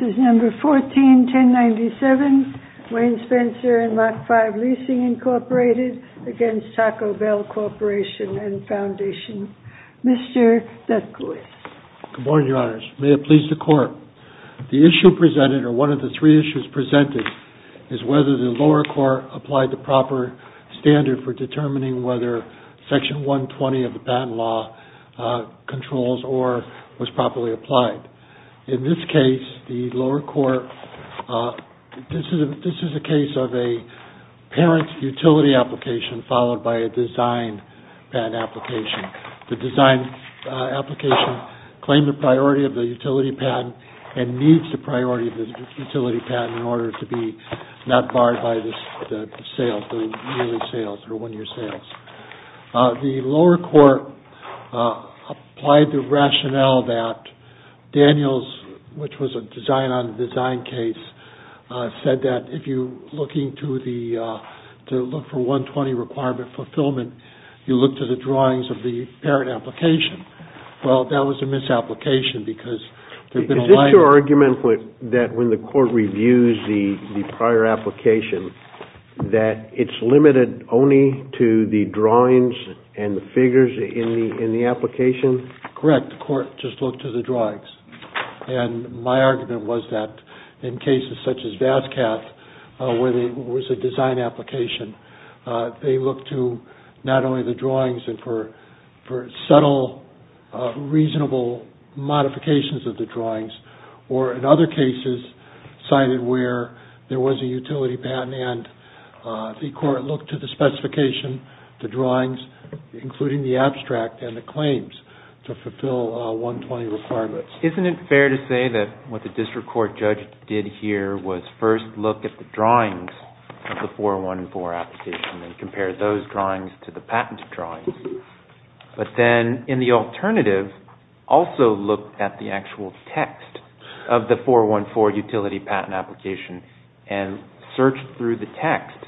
141097, Wayne Spencer and Mach 5 Leasing Incorporated against Taco Bell Corporation and Foundation. Mr. Dethkois. Good morning, Your Honors. May it please the Court. The issue presented, or one of the three issues presented, is whether the lower court applied the proper standard for determining whether Section 120 of the Patent Law controls or was properly applied. In this case, the lower court, this is a case of a parent utility application followed by a design patent application. The design application claimed the priority of the utility patent and needs the priority of the utility patent in order to be not barred by the sales, the yearly sales or one-year sales. The lower court applied the rationale that Daniels, which was a design-on-design case, said that if you're looking to look for 120 requirement fulfillment, you look to the drawings of the parent application. Well, that was a misapplication because they've been aligned. Is your argument that when the court reviews the prior application that it's limited only to the drawings and the figures in the application? Correct. The court just looked to the drawings. My argument was that in cases such as VASCAT, where there was a design application, they looked to not only the drawings and for subtle, reasonable modifications of the drawings, or in other cases, cited where there was a utility patent and the court looked to the specification, the drawings, including the abstract and the claims, to fulfill 120 requirements. Isn't it fair to say that what the district court judge did here was first look at the drawings of the 414 application and compare those drawings to the patent drawings, but then in the alternative, also looked at the actual text of the 414 utility patent application and searched through the text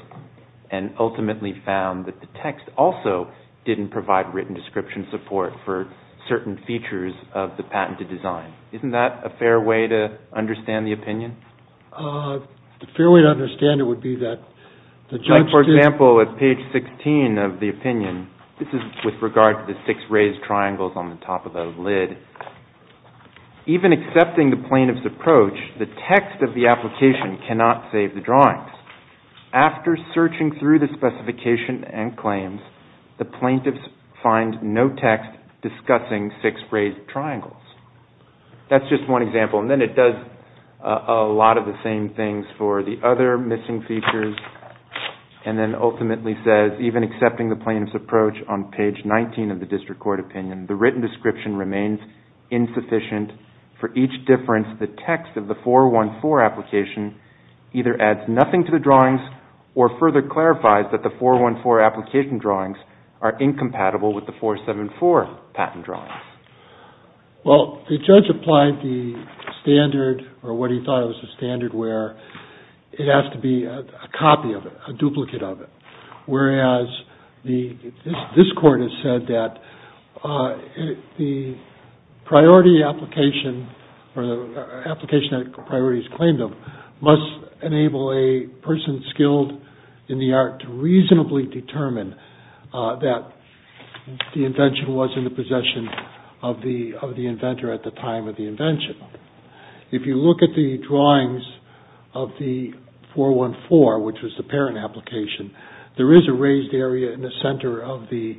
and ultimately found that the text also didn't provide written description support for certain features of the patented design. Isn't that a fair way to understand the opinion? A fair way to understand it would be that the judge did... Like, for example, at page 16 of the opinion, this is with regard to the six raised triangles on the top of the lid. Even accepting the plaintiff's approach, the text of the application cannot save the drawings. After searching through the specification and claims, the plaintiffs find no text discussing six raised triangles. That's just one example. And then it does a lot of the same things for the other missing features and then ultimately says, even accepting the plaintiff's approach on page 19 of the district court opinion, the written description remains insufficient. For each difference, the text of the 414 application either adds nothing to the drawings or further clarifies that the 414 application drawings are incompatible with the 474 patent drawings. Well, the judge applied the standard or what he thought was the standard where it has to be a copy of it, a duplicate of it. Whereas this court has said that the priority application or the application that priorities claimed of must enable a person skilled in the art to reasonably determine that the invention was in the possession of the inventor at the time of the invention. If you look at the drawings of the 414, which was the parent application, there is a raised area in the center of the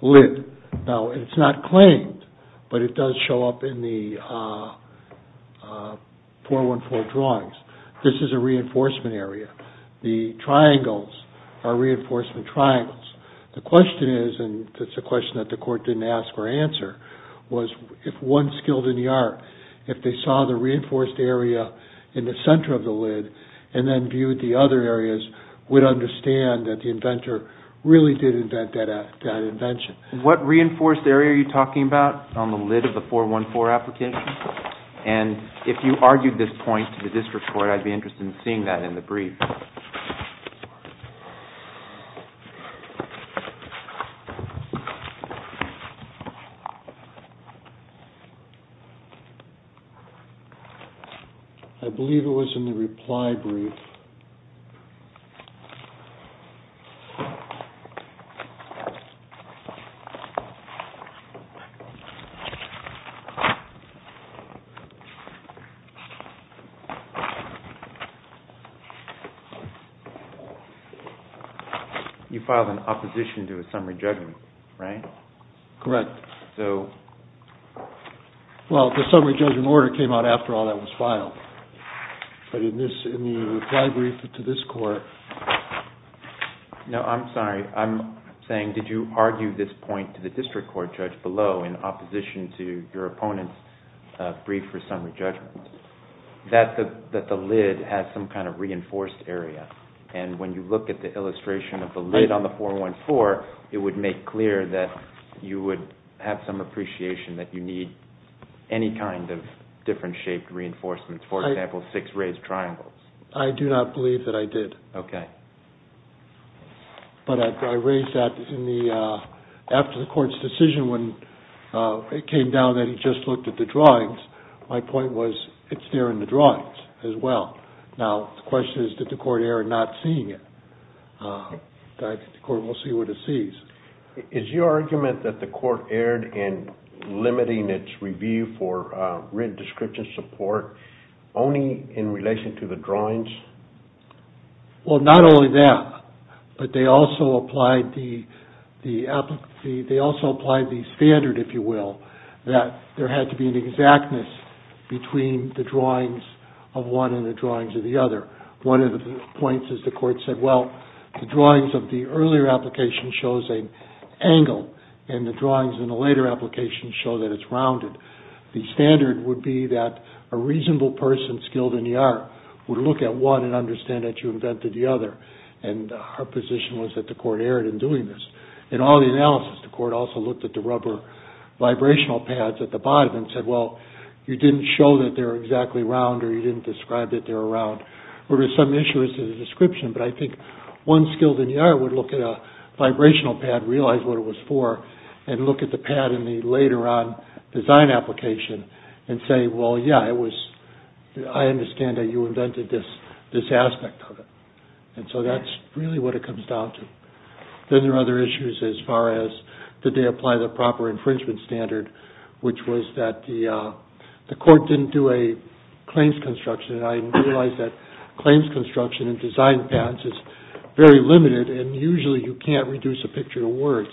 lid. Now, it's not claimed, but it does show up in the 414 drawings. This is a reinforcement area. The triangles are reinforcement triangles. The question is, and it's a question that the court didn't ask or answer, was if one skilled in the art, if they saw the reinforced area in the center of the lid and then viewed the other areas, would understand that the inventor really did invent that invention. What reinforced area are you talking about on the lid of the 414 application? If you argued this point to the district court, I'd be interested in seeing that in the brief. I believe it was in the reply brief. You filed an opposition to a summary judgment, right? Correct. So... Well, the summary judgment order came out after all that was filed, but in the reply brief to this court... No, I'm sorry. I'm saying, did you argue this point to the district court judge below in opposition to your opponents? That the lid has some kind of reinforced area, and when you look at the illustration of the lid on the 414, it would make clear that you would have some appreciation that you need any kind of different shaped reinforcements. For example, six raised triangles. I do not believe that I did. Okay. But I raised that after the court's decision when it came down that he just looked at the drawings. My point was, it's there in the drawings as well. Now, the question is, did the court err in not seeing it? The court will see what it sees. Is your argument that the court erred in limiting its review for written description support only in relation to the drawings? Well, not only that, but they also applied the standard, if you will, that there had to be an exactness between the drawings of one and the drawings of the other. One of the points is the court said, well, the drawings of the earlier application shows an angle, and the drawings in the later application show that it's rounded. The standard would be that a reasonable person skilled in the art would look at one and understand that you invented the other. And our position was that the court erred in doing this. In all the analysis, the court also looked at the rubber vibrational pads at the bottom and said, well, you didn't show that they're exactly round or you didn't describe that they're round. There were some issues with the description, but I think one skilled in the art would look at a vibrational pad, realize what it was for, and look at the pad in the later on design application and say, well, yeah, I understand that you invented this aspect of it. And so that's really what it comes down to. Then there are other issues as far as did they apply the proper infringement standard, which was that the court didn't do a claims construction. I realize that claims construction and design patents is very limited, and usually you can't reduce a picture to words.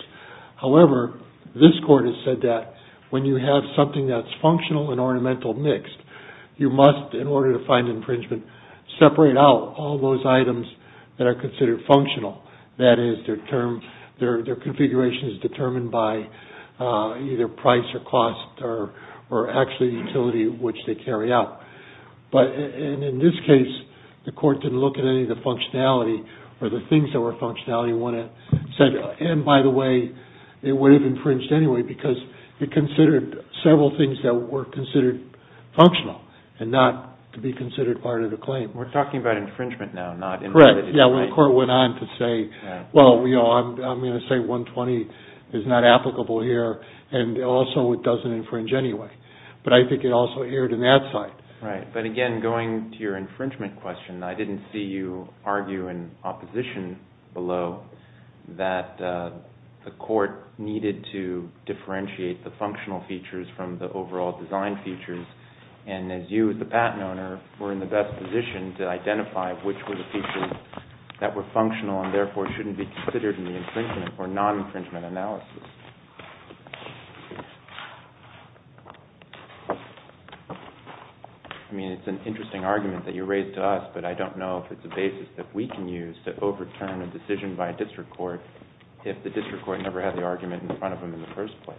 However, this court has said that when you have something that's functional and ornamental mixed, you must, in order to find infringement, separate out all those items that are considered functional. That is, their configuration is determined by either price or cost or actually utility which they carry out. In this case, the court didn't look at any of the functionality or the things that were functionality and said, and by the way, it would have infringed anyway because it considered several things that were considered functional and not to be considered part of the claim. We're talking about infringement now, not infringement. Yeah, when the court went on to say, well, I'm going to say 120 is not applicable here, and also it doesn't infringe anyway. But I think it also erred in that side. Right, but again, going to your infringement question, I didn't see you argue in opposition below that the court needed to differentiate the functional features from the overall design features. And as you, as the patent owner, were in the best position to identify which were the features that were functional and therefore shouldn't be considered in the infringement or non-infringement analysis. I mean, it's an interesting argument that you raised to us, but I don't know if it's a basis that we can use to overturn a decision by a district court if the district court never had the argument in front of them in the first place.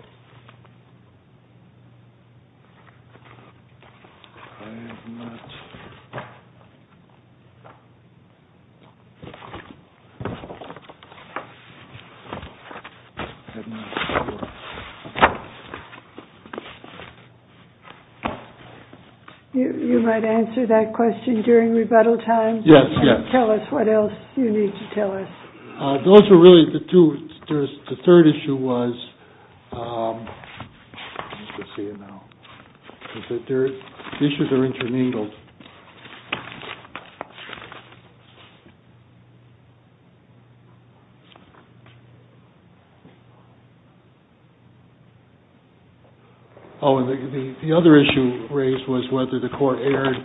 I have not... You might answer that question during rebuttal time. Yes, yes. Tell us what else you need to tell us. Those are really the two. The third issue was... The issues are intermingled. Oh, and the other issue raised was whether the court erred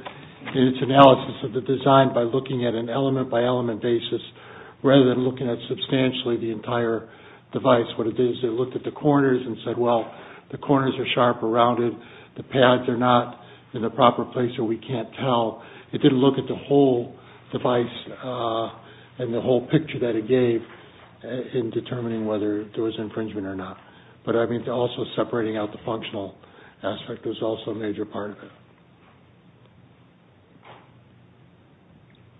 in its analysis of the design by looking at an element-by-element basis rather than looking at substantially the entire device. That's what it is. They looked at the corners and said, well, the corners are sharp or rounded, the pads are not in the proper place where we can't tell. It didn't look at the whole device and the whole picture that it gave in determining whether there was infringement or not. But, I mean, also separating out the functional aspect was also a major part of it.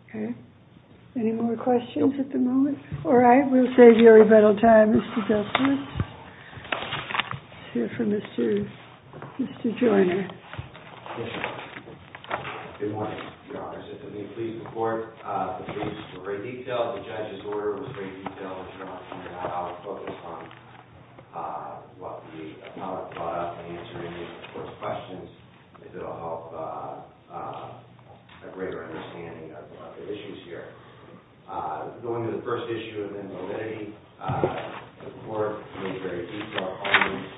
Okay. Any more questions at the moment? All right. We'll save your rebuttal time, Mr. Desmond. Let's hear from Mr. Joyner. Yes, Your Honor. Good morning, Your Honor. If you'll please report the case in great detail. The judge's order was in great detail. I'll focus on what the public brought up in answering the court's questions. It will help a greater understanding of the issues here. Going to the first issue of invalidity, the court made very detailed arguments,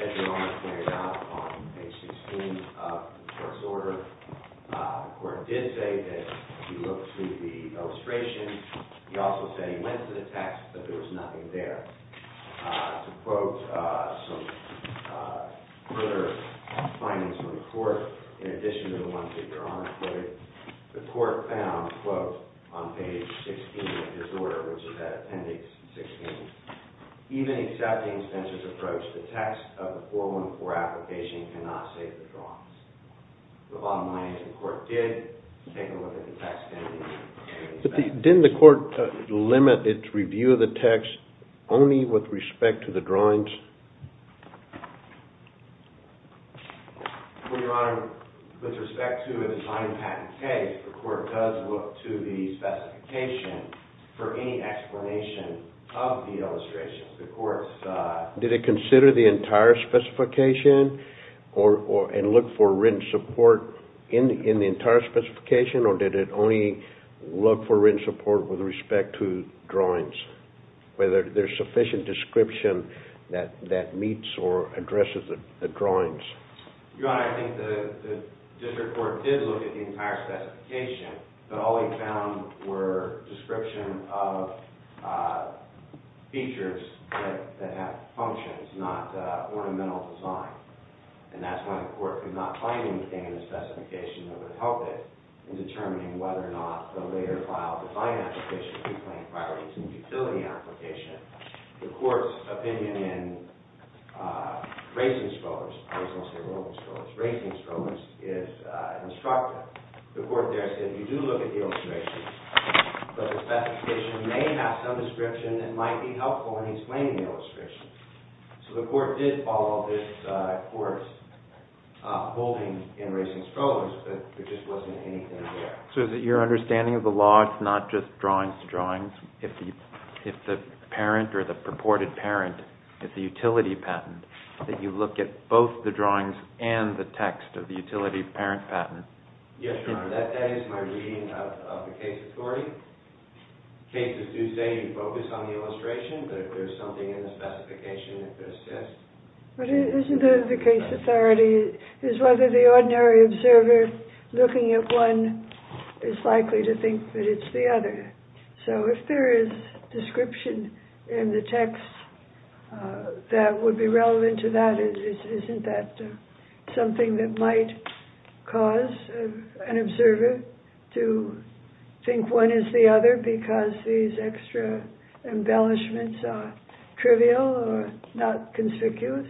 as Your Honor pointed out, on page 16 of the court's order. The court did say that if you look through the illustration, he also said he went to the text, but there was nothing there. To quote some further findings from the court, in addition to the ones that Your Honor quoted, the court found, quote, on page 16 of his order, which is at appendix 16, even accepting Spencer's approach, the text of the 414 application cannot save the drawings. The bottom line is the court did take a look at the text, and it did. Didn't the court limit its review of the text only with respect to the drawings? Well, Your Honor, with respect to a design patent case, the court does look to the specification for any explanation of the illustrations. Did it consider the entire specification and look for written support in the entire specification, or did it only look for written support with respect to drawings, whether there's sufficient description that meets or addresses the drawings? Your Honor, I think the district court did look at the entire specification, but all they found were description of features that have functions, not ornamental design. And that's why the court could not find anything in the specification that would help it in determining whether or not the later file design application could claim priorities in the utility application. The court's opinion in Raising Strollers, I always want to say Rolling Strollers, Raising Strollers is instructive. The court there said you do look at the illustrations, but the specification may have some description that might be helpful in explaining the illustrations. So the court did follow this course, holding in Raising Strollers, but there just wasn't anything there. So is it your understanding of the law it's not just drawings to drawings? If the parent or the purported parent, if the utility patent, that you look at both the drawings and the text of the utility parent patent? Yes, Your Honor, that is my reading of the case authority. Cases do say you focus on the illustration, but if there's something in the specification that could assist... But isn't the case authority is whether the ordinary observer looking at one is likely to think that it's the other. So if there is description in the text that would be relevant to that, isn't that something that might cause an observer to think one is the other because these extra embellishments are trivial or not conspicuous?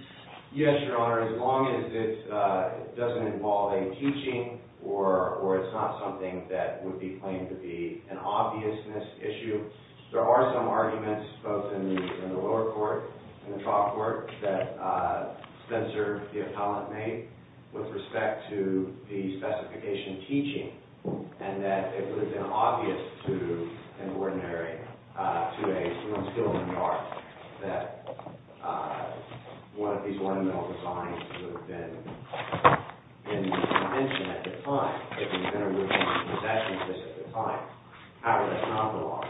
Yes, Your Honor, as long as it doesn't involve a teaching or it's not something that would be claimed to be an obviousness issue. There are some arguments both in the lower court and the trial court that censored the appellate mate with respect to the specification teaching. And that it would have been obvious to an ordinary 2A student that one of these ornamental designs would have been in the convention at the time. It would have been in the concession list at the time. However, that's not the law.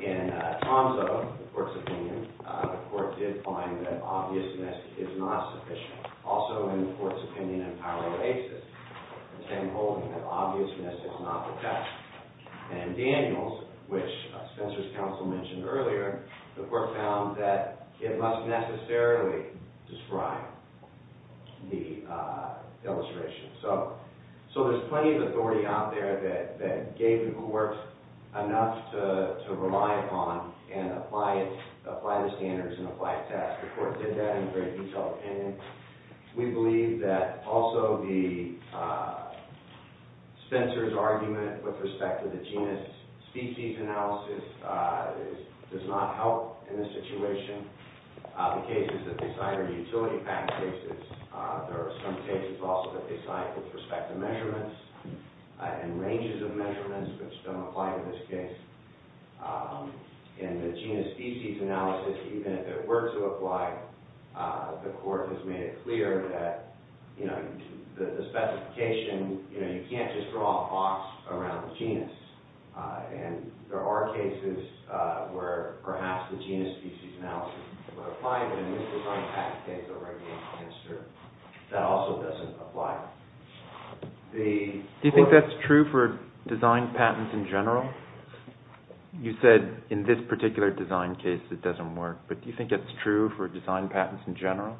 In Tom's own, the court's opinion, the court did find that obviousness is not sufficient. Also in the court's opinion in Pilar de Aces, Tim Holden, that obviousness is not the test. And in Daniels, which Spencer's counsel mentioned earlier, the court found that it must necessarily describe the illustration. So there's plenty of authority out there that gave the court enough to rely upon and apply the standards and apply the test. The court did that in a very detailed opinion. We believe that also the Spencer's argument with respect to the genus species analysis does not help in this situation. The cases that they cite are utility-packed cases. There are some cases also that they cite with respect to measurements and ranges of measurements which don't apply to this case. In the genus species analysis, even if it were to apply, the court has made it clear that the specification, you can't just draw a box around the genus. And there are cases where perhaps the genus species analysis would apply, but in this design patent case, that also doesn't apply. Do you think that's true for design patents in general? You said in this particular design case it doesn't work, but do you think it's true for design patents in general?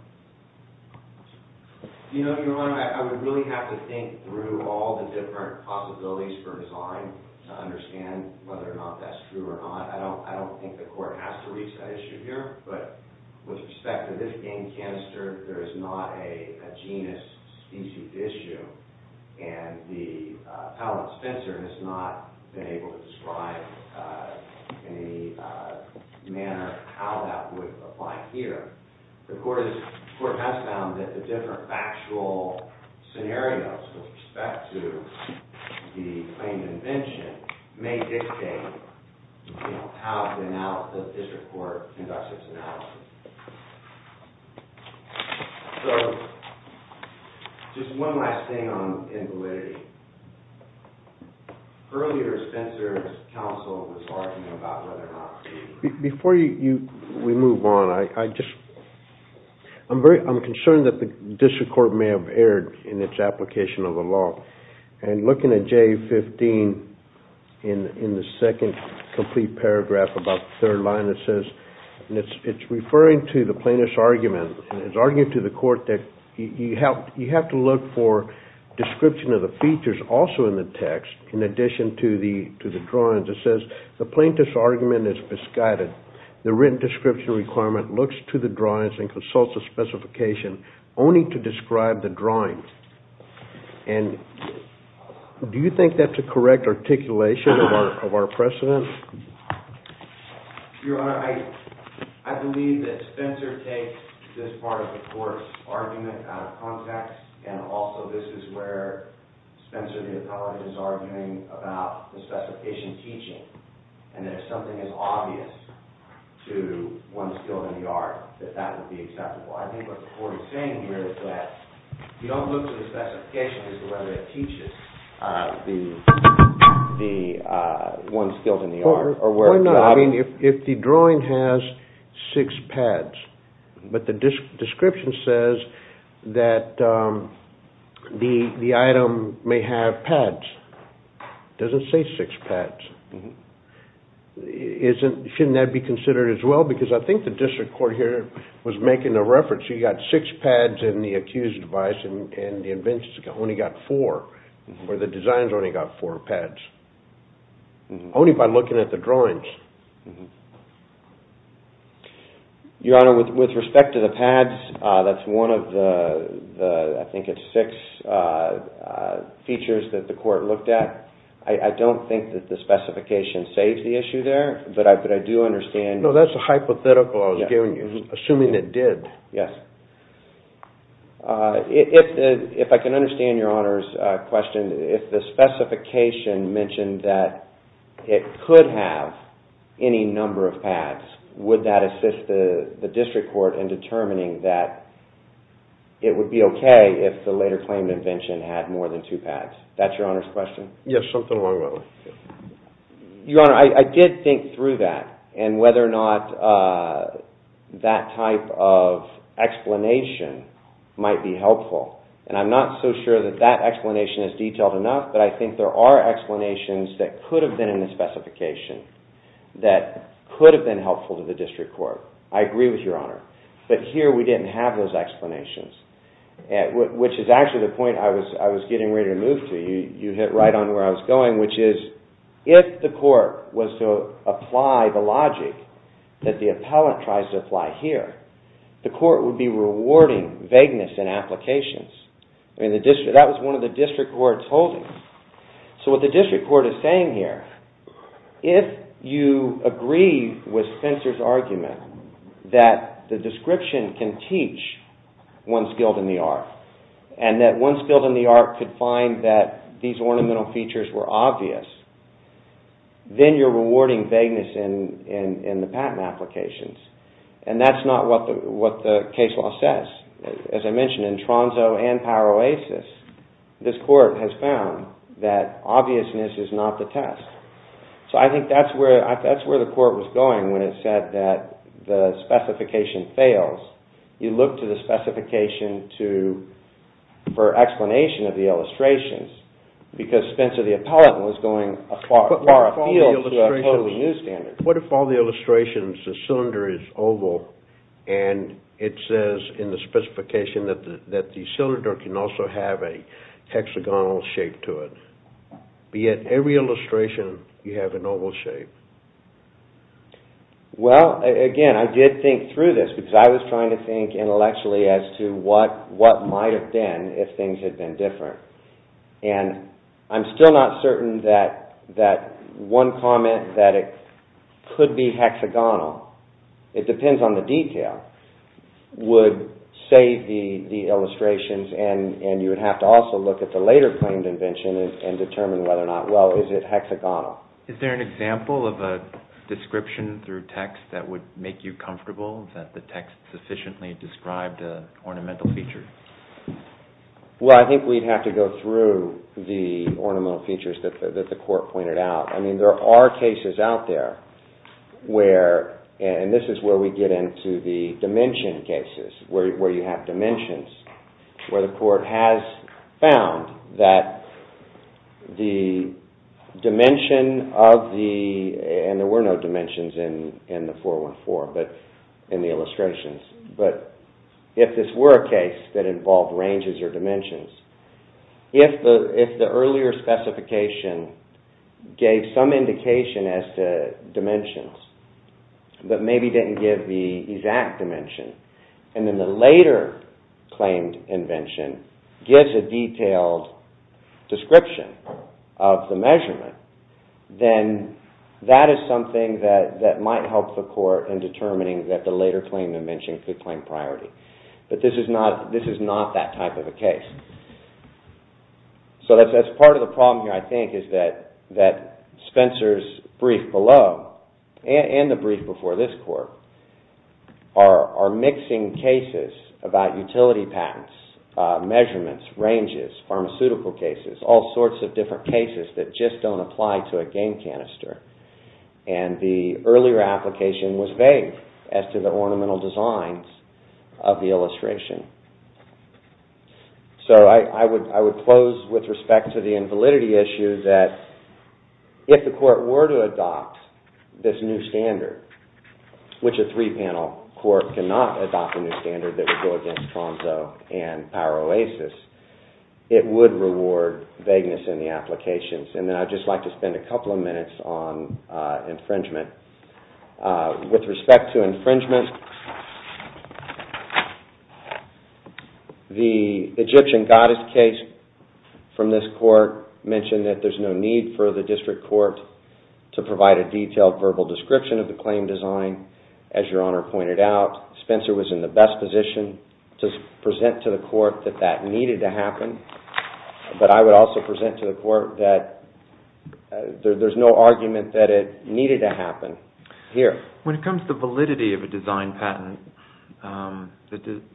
I would really have to think through all the different possibilities for design to understand whether or not that's true or not. I don't think the court has to reach that issue here. But with respect to this game canister, there is not a genus species issue, and the palate of Spencer has not been able to describe in any manner how that would apply here. The court has found that the different factual scenarios with respect to the claimed invention may dictate how the district court conducts its analysis. Just one last thing on invalidity. Earlier, Spencer's counsel was arguing about whether or not... Before we move on, I'm concerned that the district court may have erred in its application of the law. And looking at J15 in the second complete paragraph about the third line, it says... It's referring to the plaintiff's argument. It's arguing to the court that you have to look for description of the features also in the text in addition to the drawings. It says the plaintiff's argument is prescribed. The written description requirement looks to the drawings and consults the specification only to describe the drawings. And do you think that's a correct articulation of our precedent? Your Honor, I believe that Spencer takes this part of the court's argument out of context. And also, this is where Spencer the appellate is arguing about the specification teaching. And that if something is obvious to one skilled in the art, that that would be acceptable. I think what the court is saying here is that you don't look to the specification as to whether it teaches the one skilled in the art. If the drawing has six pads, but the description says that the item may have pads. It doesn't say six pads. Shouldn't that be considered as well? Because I think the district court here was making a reference. You've got six pads in the accused device, and the invention's only got four. Or the design's only got four pads. Only by looking at the drawings. Your Honor, with respect to the pads, that's one of the, I think it's six features that the court looked at. I don't think that the specification saves the issue there, but I do understand. No, that's a hypothetical I was giving you, assuming it did. Yes. If I can understand Your Honor's question, if the specification mentioned that it could have any number of pads, would that assist the district court in determining that it would be okay if the later claim to invention had more than two pads? That's Your Honor's question? Yes, something along those lines. Your Honor, I did think through that, and whether or not that type of explanation might be helpful. And I'm not so sure that that explanation is detailed enough, but I think there are explanations that could have been in the specification that could have been helpful to the district court. I agree with Your Honor. But here we didn't have those explanations, which is actually the point I was getting ready to move to. You hit right on where I was going, which is if the court was to apply the logic that the appellant tries to apply here, the court would be rewarding vagueness in applications. That was one of the district court's holdings. So what the district court is saying here, if you agree with Spencer's argument that the description can teach one's guilt in the art, and that one's guilt in the art could find that these ornamental features were obvious, then you're rewarding vagueness in the patent applications. And that's not what the case law says. As I mentioned, in Tronzo and Paroasis, this court has found that obviousness is not the test. So I think that's where the court was going when it said that the specification fails. You look to the specification for explanation of the illustrations, because Spencer the appellant was going far afield to a totally new standard. What if all the illustrations, the cylinder is oval, and it says in the specification that the cylinder can also have a hexagonal shape to it? Be it every illustration, you have an oval shape. Well, again, I did think through this, because I was trying to think intellectually as to what might have been if things had been different. And I'm still not certain that one comment that it could be hexagonal, it depends on the detail, would save the illustrations, and you would have to also look at the later claimed invention and determine whether or not, well, is it hexagonal? Is there an example of a description through text that would make you comfortable that the text sufficiently described an ornamental feature? Well, I think we'd have to go through the ornamental features that the court pointed out. I mean, there are cases out there where, and this is where we get into the dimension cases, where you have dimensions, where the court has found that the dimension of the, and there were no dimensions in the 414, but in the illustrations. But if this were a case that involved ranges or dimensions, if the earlier specification gave some indication as to dimensions, but maybe didn't give the exact dimension, and then the later claimed invention gives a detailed description of the measurement, then that is something that might help the court in determining that the later claimed invention could claim priority. But this is not that type of a case. So that's part of the problem here, I think, is that Spencer's brief below, and the brief before this court, are mixing cases about utility patents, measurements, ranges, pharmaceutical cases, all sorts of different cases that just don't apply to a game canister. And the earlier application was vague as to the ornamental designs of the illustration. So I would close with respect to the invalidity issue that if the court were to adopt this new standard, which a three-panel court cannot adopt a new standard that would go against Tromso and PowerOasis, it would reward vagueness in the applications. And then I'd just like to spend a couple of minutes on infringement. With respect to infringement, the Egyptian goddess case from this court mentioned that there's no need for the district court to provide a detailed verbal description of the claim design. As Your Honor pointed out, Spencer was in the best position to present to the court that that needed to happen. But I would also present to the court that there's no argument that it needed to happen here. When it comes to validity of a design patent,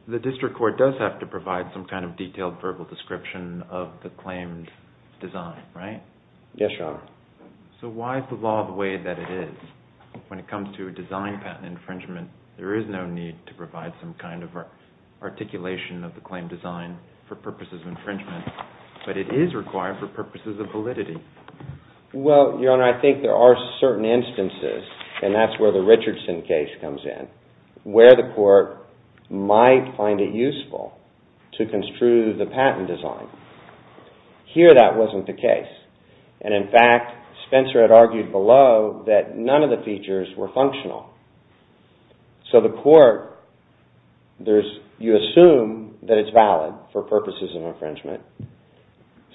the district court does have to provide some kind of detailed verbal description of the claimed design, right? Yes, Your Honor. So why is the law the way that it is when it comes to a design patent infringement? There is no need to provide some kind of articulation of the claim design for purposes of infringement, but it is required for purposes of validity. Well, Your Honor, I think there are certain instances, and that's where the Richardson case comes in, where the court might find it useful to construe the patent design. Here, that wasn't the case. And in fact, Spencer had argued below that none of the features were functional. So the court, you assume that it's valid for purposes of infringement.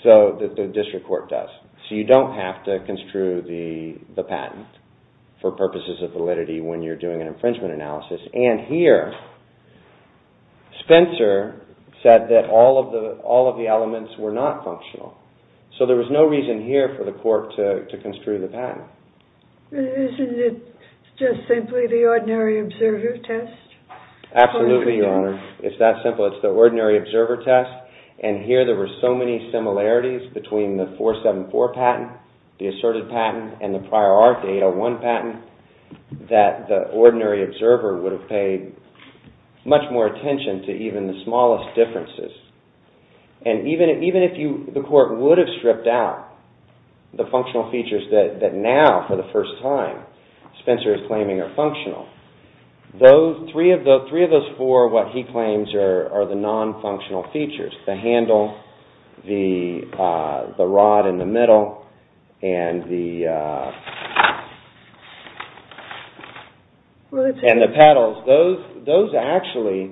So the district court does. So you don't have to construe the patent for purposes of validity when you're doing an infringement analysis. And here, Spencer said that all of the elements were not functional. So there was no reason here for the court to construe the patent. Isn't it just simply the ordinary observer test? Absolutely, Your Honor. It's that simple. It's the ordinary observer test. And here, there were so many similarities between the 474 patent, the asserted patent, and the prior ARC 801 patent, that the ordinary observer would have paid much more attention to even the smallest differences. And even if the court would have stripped out the functional features that now, for the first time, Spencer is claiming are functional, three of those four, what he claims, are the non-functional features. The handle, the rod in the middle, and the paddles. Those actually,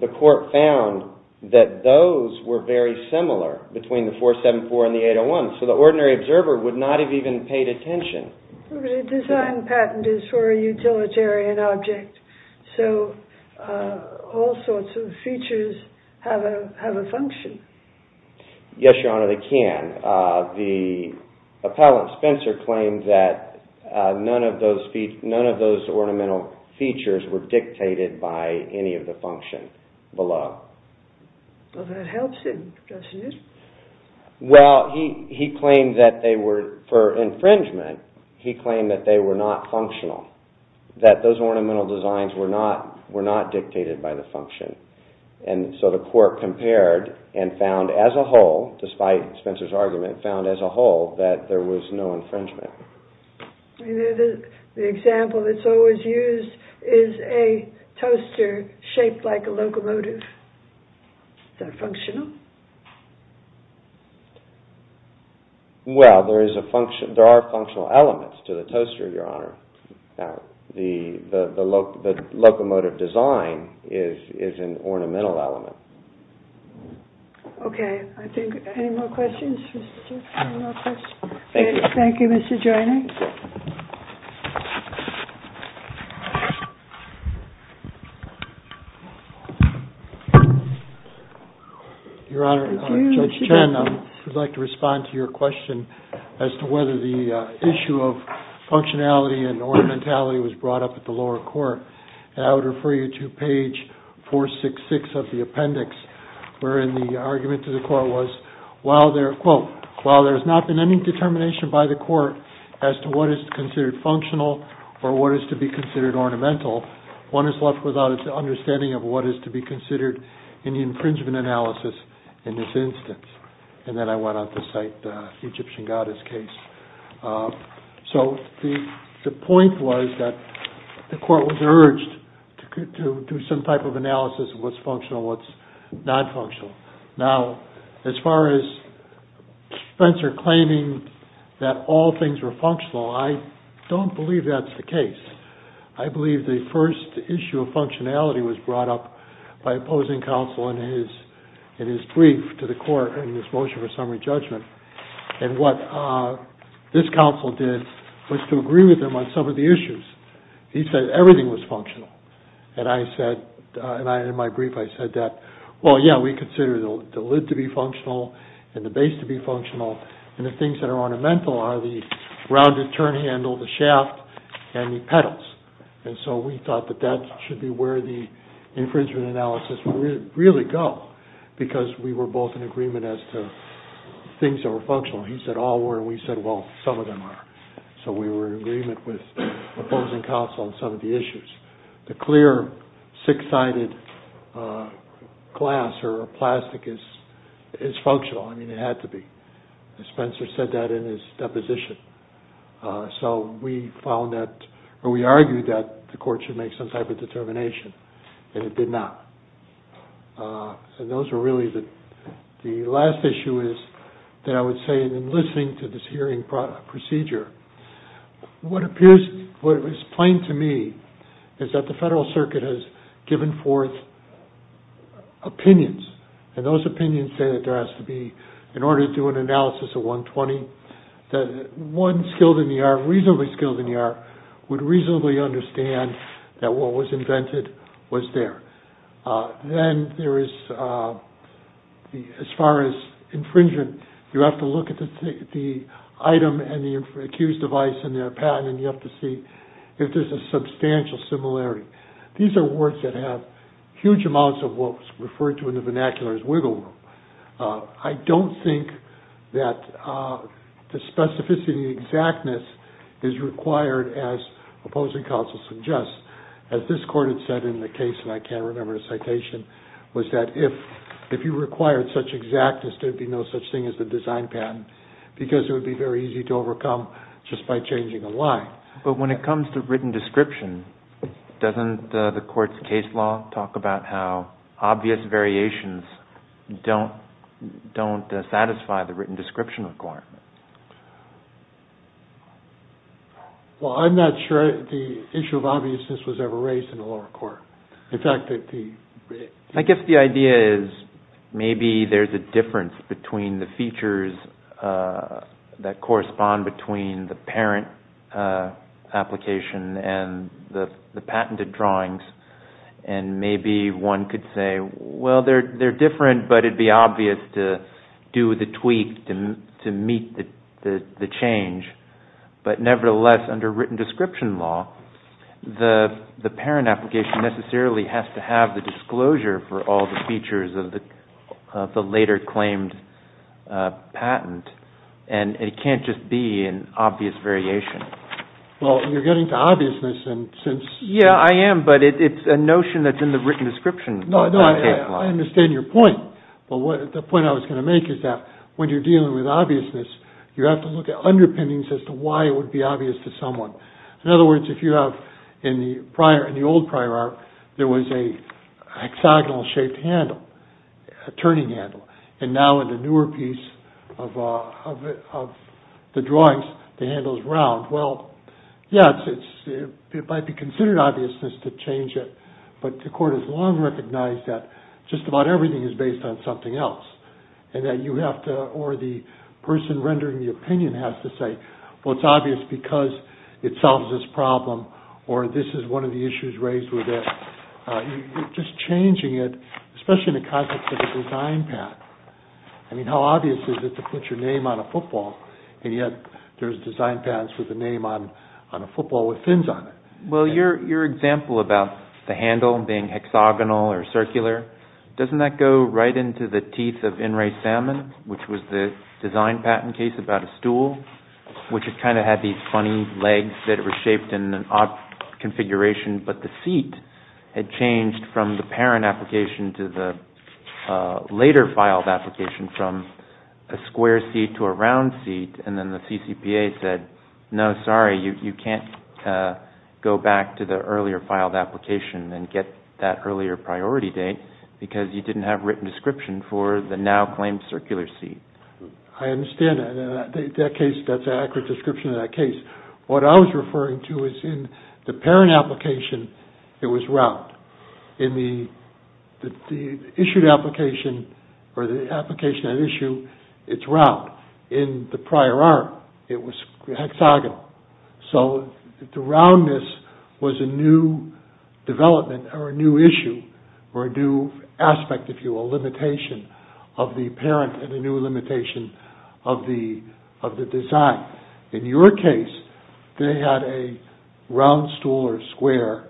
the court found that those were very similar between the 474 and the 801. So the ordinary observer would not have even paid attention. The design patent is for a utilitarian object. So all sorts of features have a function. Yes, Your Honor, they can. The appellant, Spencer, claimed that none of those ornamental features were dictated by any of the function below. Well, that helps him, doesn't it? Well, he claimed that they were, for infringement, he claimed that they were not functional. That those ornamental designs were not dictated by the function. And so the court compared and found as a whole, despite Spencer's argument, found as a whole that there was no infringement. The example that's always used is a toaster shaped like a locomotive. Is that functional? Well, there are functional elements to the toaster, Your Honor. The locomotive design is an ornamental element. Okay. Any more questions? Thank you. Thank you, Mr. Joyner. Your Honor, Judge Chen, I would like to respond to your question as to whether the issue of functionality and ornamentality was brought up at the lower court. And I would refer you to page 466 of the appendix, wherein the argument to the court was, while there, quote, while there has not been any determination by the court as to what is considered functional or what is to be considered ornamental, one is left without an understanding of what is to be considered in the infringement analysis in this instance. And then I went on to cite the Egyptian goddess case. So the point was that the court was urged to do some type of analysis of what's functional, what's not functional. Now, as far as Spencer claiming that all things were functional, I don't believe that's the case. I believe the first issue of functionality was brought up by opposing counsel in his brief to the court in his motion for summary judgment. And what this counsel did was to agree with him on some of the issues. He said everything was functional. And I said, and in my brief I said that, well, yeah, we consider the lid to be functional and the base to be functional, and the things that are ornamental are the rounded turn handle, the shaft, and the pedals. And so we thought that that should be where the infringement analysis would really go, because we were both in agreement as to things that were functional. He said all were, and we said, well, some of them are. So we were in agreement with opposing counsel on some of the issues. The clear six-sided glass or plastic is functional. I mean, it had to be. Spencer said that in his deposition. So we argued that the court should make some type of determination, and it did not. And those were really the last issue is that I would say in listening to this hearing procedure, what was plain to me is that the Federal Circuit has given forth opinions, and those opinions say that there has to be, in order to do an analysis of 120, that one skilled in the art, reasonably skilled in the art, would reasonably understand that what was invented was there. Then there is, as far as infringement, you have to look at the item and the accused device and their patent, and you have to see if there's a substantial similarity. These are words that have huge amounts of what's referred to in the vernacular as wiggle room. I don't think that the specificity and exactness is required as opposing counsel suggests. As this court had said in the case, and I can't remember the citation, was that if you required such exactness, there would be no such thing as the design patent, because it would be very easy to overcome just by changing a line. But when it comes to written description, doesn't the court's case law talk about how obvious variations don't satisfy the written description requirement? Well, I'm not sure the issue of obviousness was ever raised in the lower court. In fact, I guess the idea is maybe there's a difference between the features that correspond between the parent application and the patented drawings, and maybe one could say, Well, they're different, but it'd be obvious to do the tweak to meet the change. But nevertheless, under written description law, the parent application necessarily has to have the disclosure for all the features of the later claimed patent, and it can't just be an obvious variation. Well, you're getting to obviousness. Yeah, I am, but it's a notion that's in the written description. No, I understand your point, but the point I was going to make is that when you're dealing with obviousness, you have to look at underpinnings as to why it would be obvious to someone. In other words, if you have in the old prior art, there was a hexagonal shaped handle, a turning handle, and now in the newer piece of the drawings, the handle's round. Yeah, it might be considered obviousness to change it, but the court has long recognized that just about everything is based on something else, or the person rendering the opinion has to say, Well, it's obvious because it solves this problem, or this is one of the issues raised with it. Just changing it, especially in the context of a design patent, I mean, how obvious is it to put your name on a football, and yet there's design patents with a name on a football with fins on it? Well, your example about the handle being hexagonal or circular, doesn't that go right into the teeth of In Ray Salmon, which was the design patent case about a stool, which kind of had these funny legs that were shaped in an odd configuration, but the seat had changed from the parent application to the later filed application, from a square seat to a round seat, and then the CCPA said, No, sorry, you can't go back to the earlier filed application and get that earlier priority date, because you didn't have a written description for the now claimed circular seat. I understand that. That's an accurate description of that case. What I was referring to was in the parent application, it was round. In the issued application, or the application at issue, it's round. In the prior art, it was hexagonal. So, the roundness was a new development or a new issue or a new aspect, if you will, limitation of the parent and a new limitation of the design. In your case, they had a round stool or square,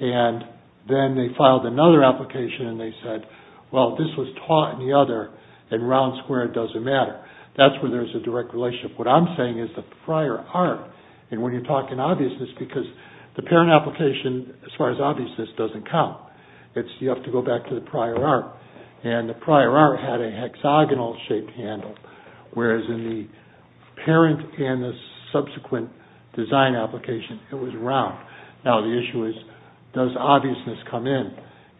and then they filed another application, and they said, Well, this was taught in the other, and round square doesn't matter. That's where there's a direct relationship. What I'm saying is the prior art, and when you're talking obviousness, because the parent application, as far as obviousness, doesn't count. You have to go back to the prior art, and the prior art had a hexagonal shaped handle, whereas in the parent and the subsequent design application, it was round. Now, the issue is, does obviousness come in?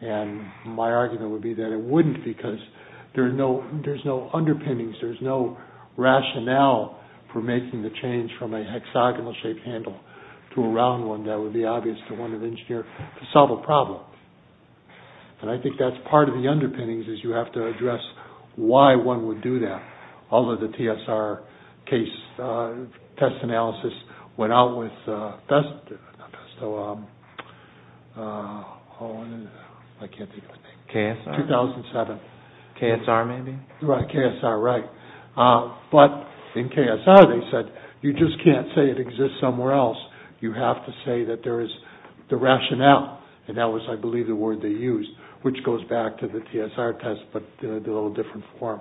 And my argument would be that it wouldn't, because there's no underpinnings. There's no rationale for making the change from a hexagonal shaped handle to a round one that would be obvious to one of the engineers to solve a problem. And I think that's part of the underpinnings is you have to address why one would do that. Although the TSR test analysis went out with, I can't think of the name. KSR? KSR, maybe? Right, KSR, right. But in KSR, they said, You just can't say it exists somewhere else. You have to say that there is the rationale, and that was, I believe, the word they used, which goes back to the TSR test, but in a little different form.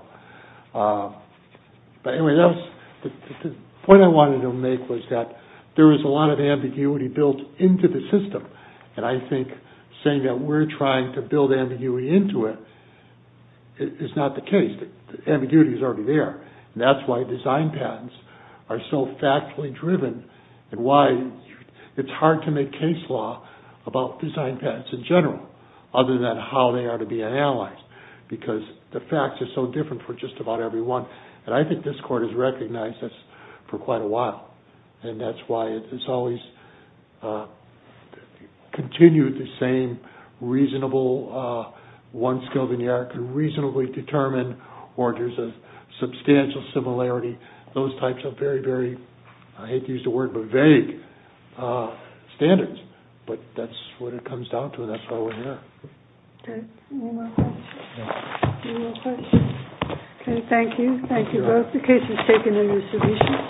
But anyway, the point I wanted to make was that there was a lot of ambiguity built into the system, and I think saying that we're trying to build ambiguity into it is not the case. Ambiguity is already there, and that's why design patents are so factually driven, and why it's hard to make case law about design patents in general, other than how they are to be analyzed, because the facts are so different for just about everyone. And I think this court has recognized this for quite a while, and that's why it's always continued the same reasonable, one scovenier could reasonably determine, or there's a substantial similarity. Those types of very, very, I hate to use the word, but vague standards. But that's what it comes down to, and that's why we're here. Okay. Any more questions? No. Okay, thank you. Thank you both. The case is taken into submission.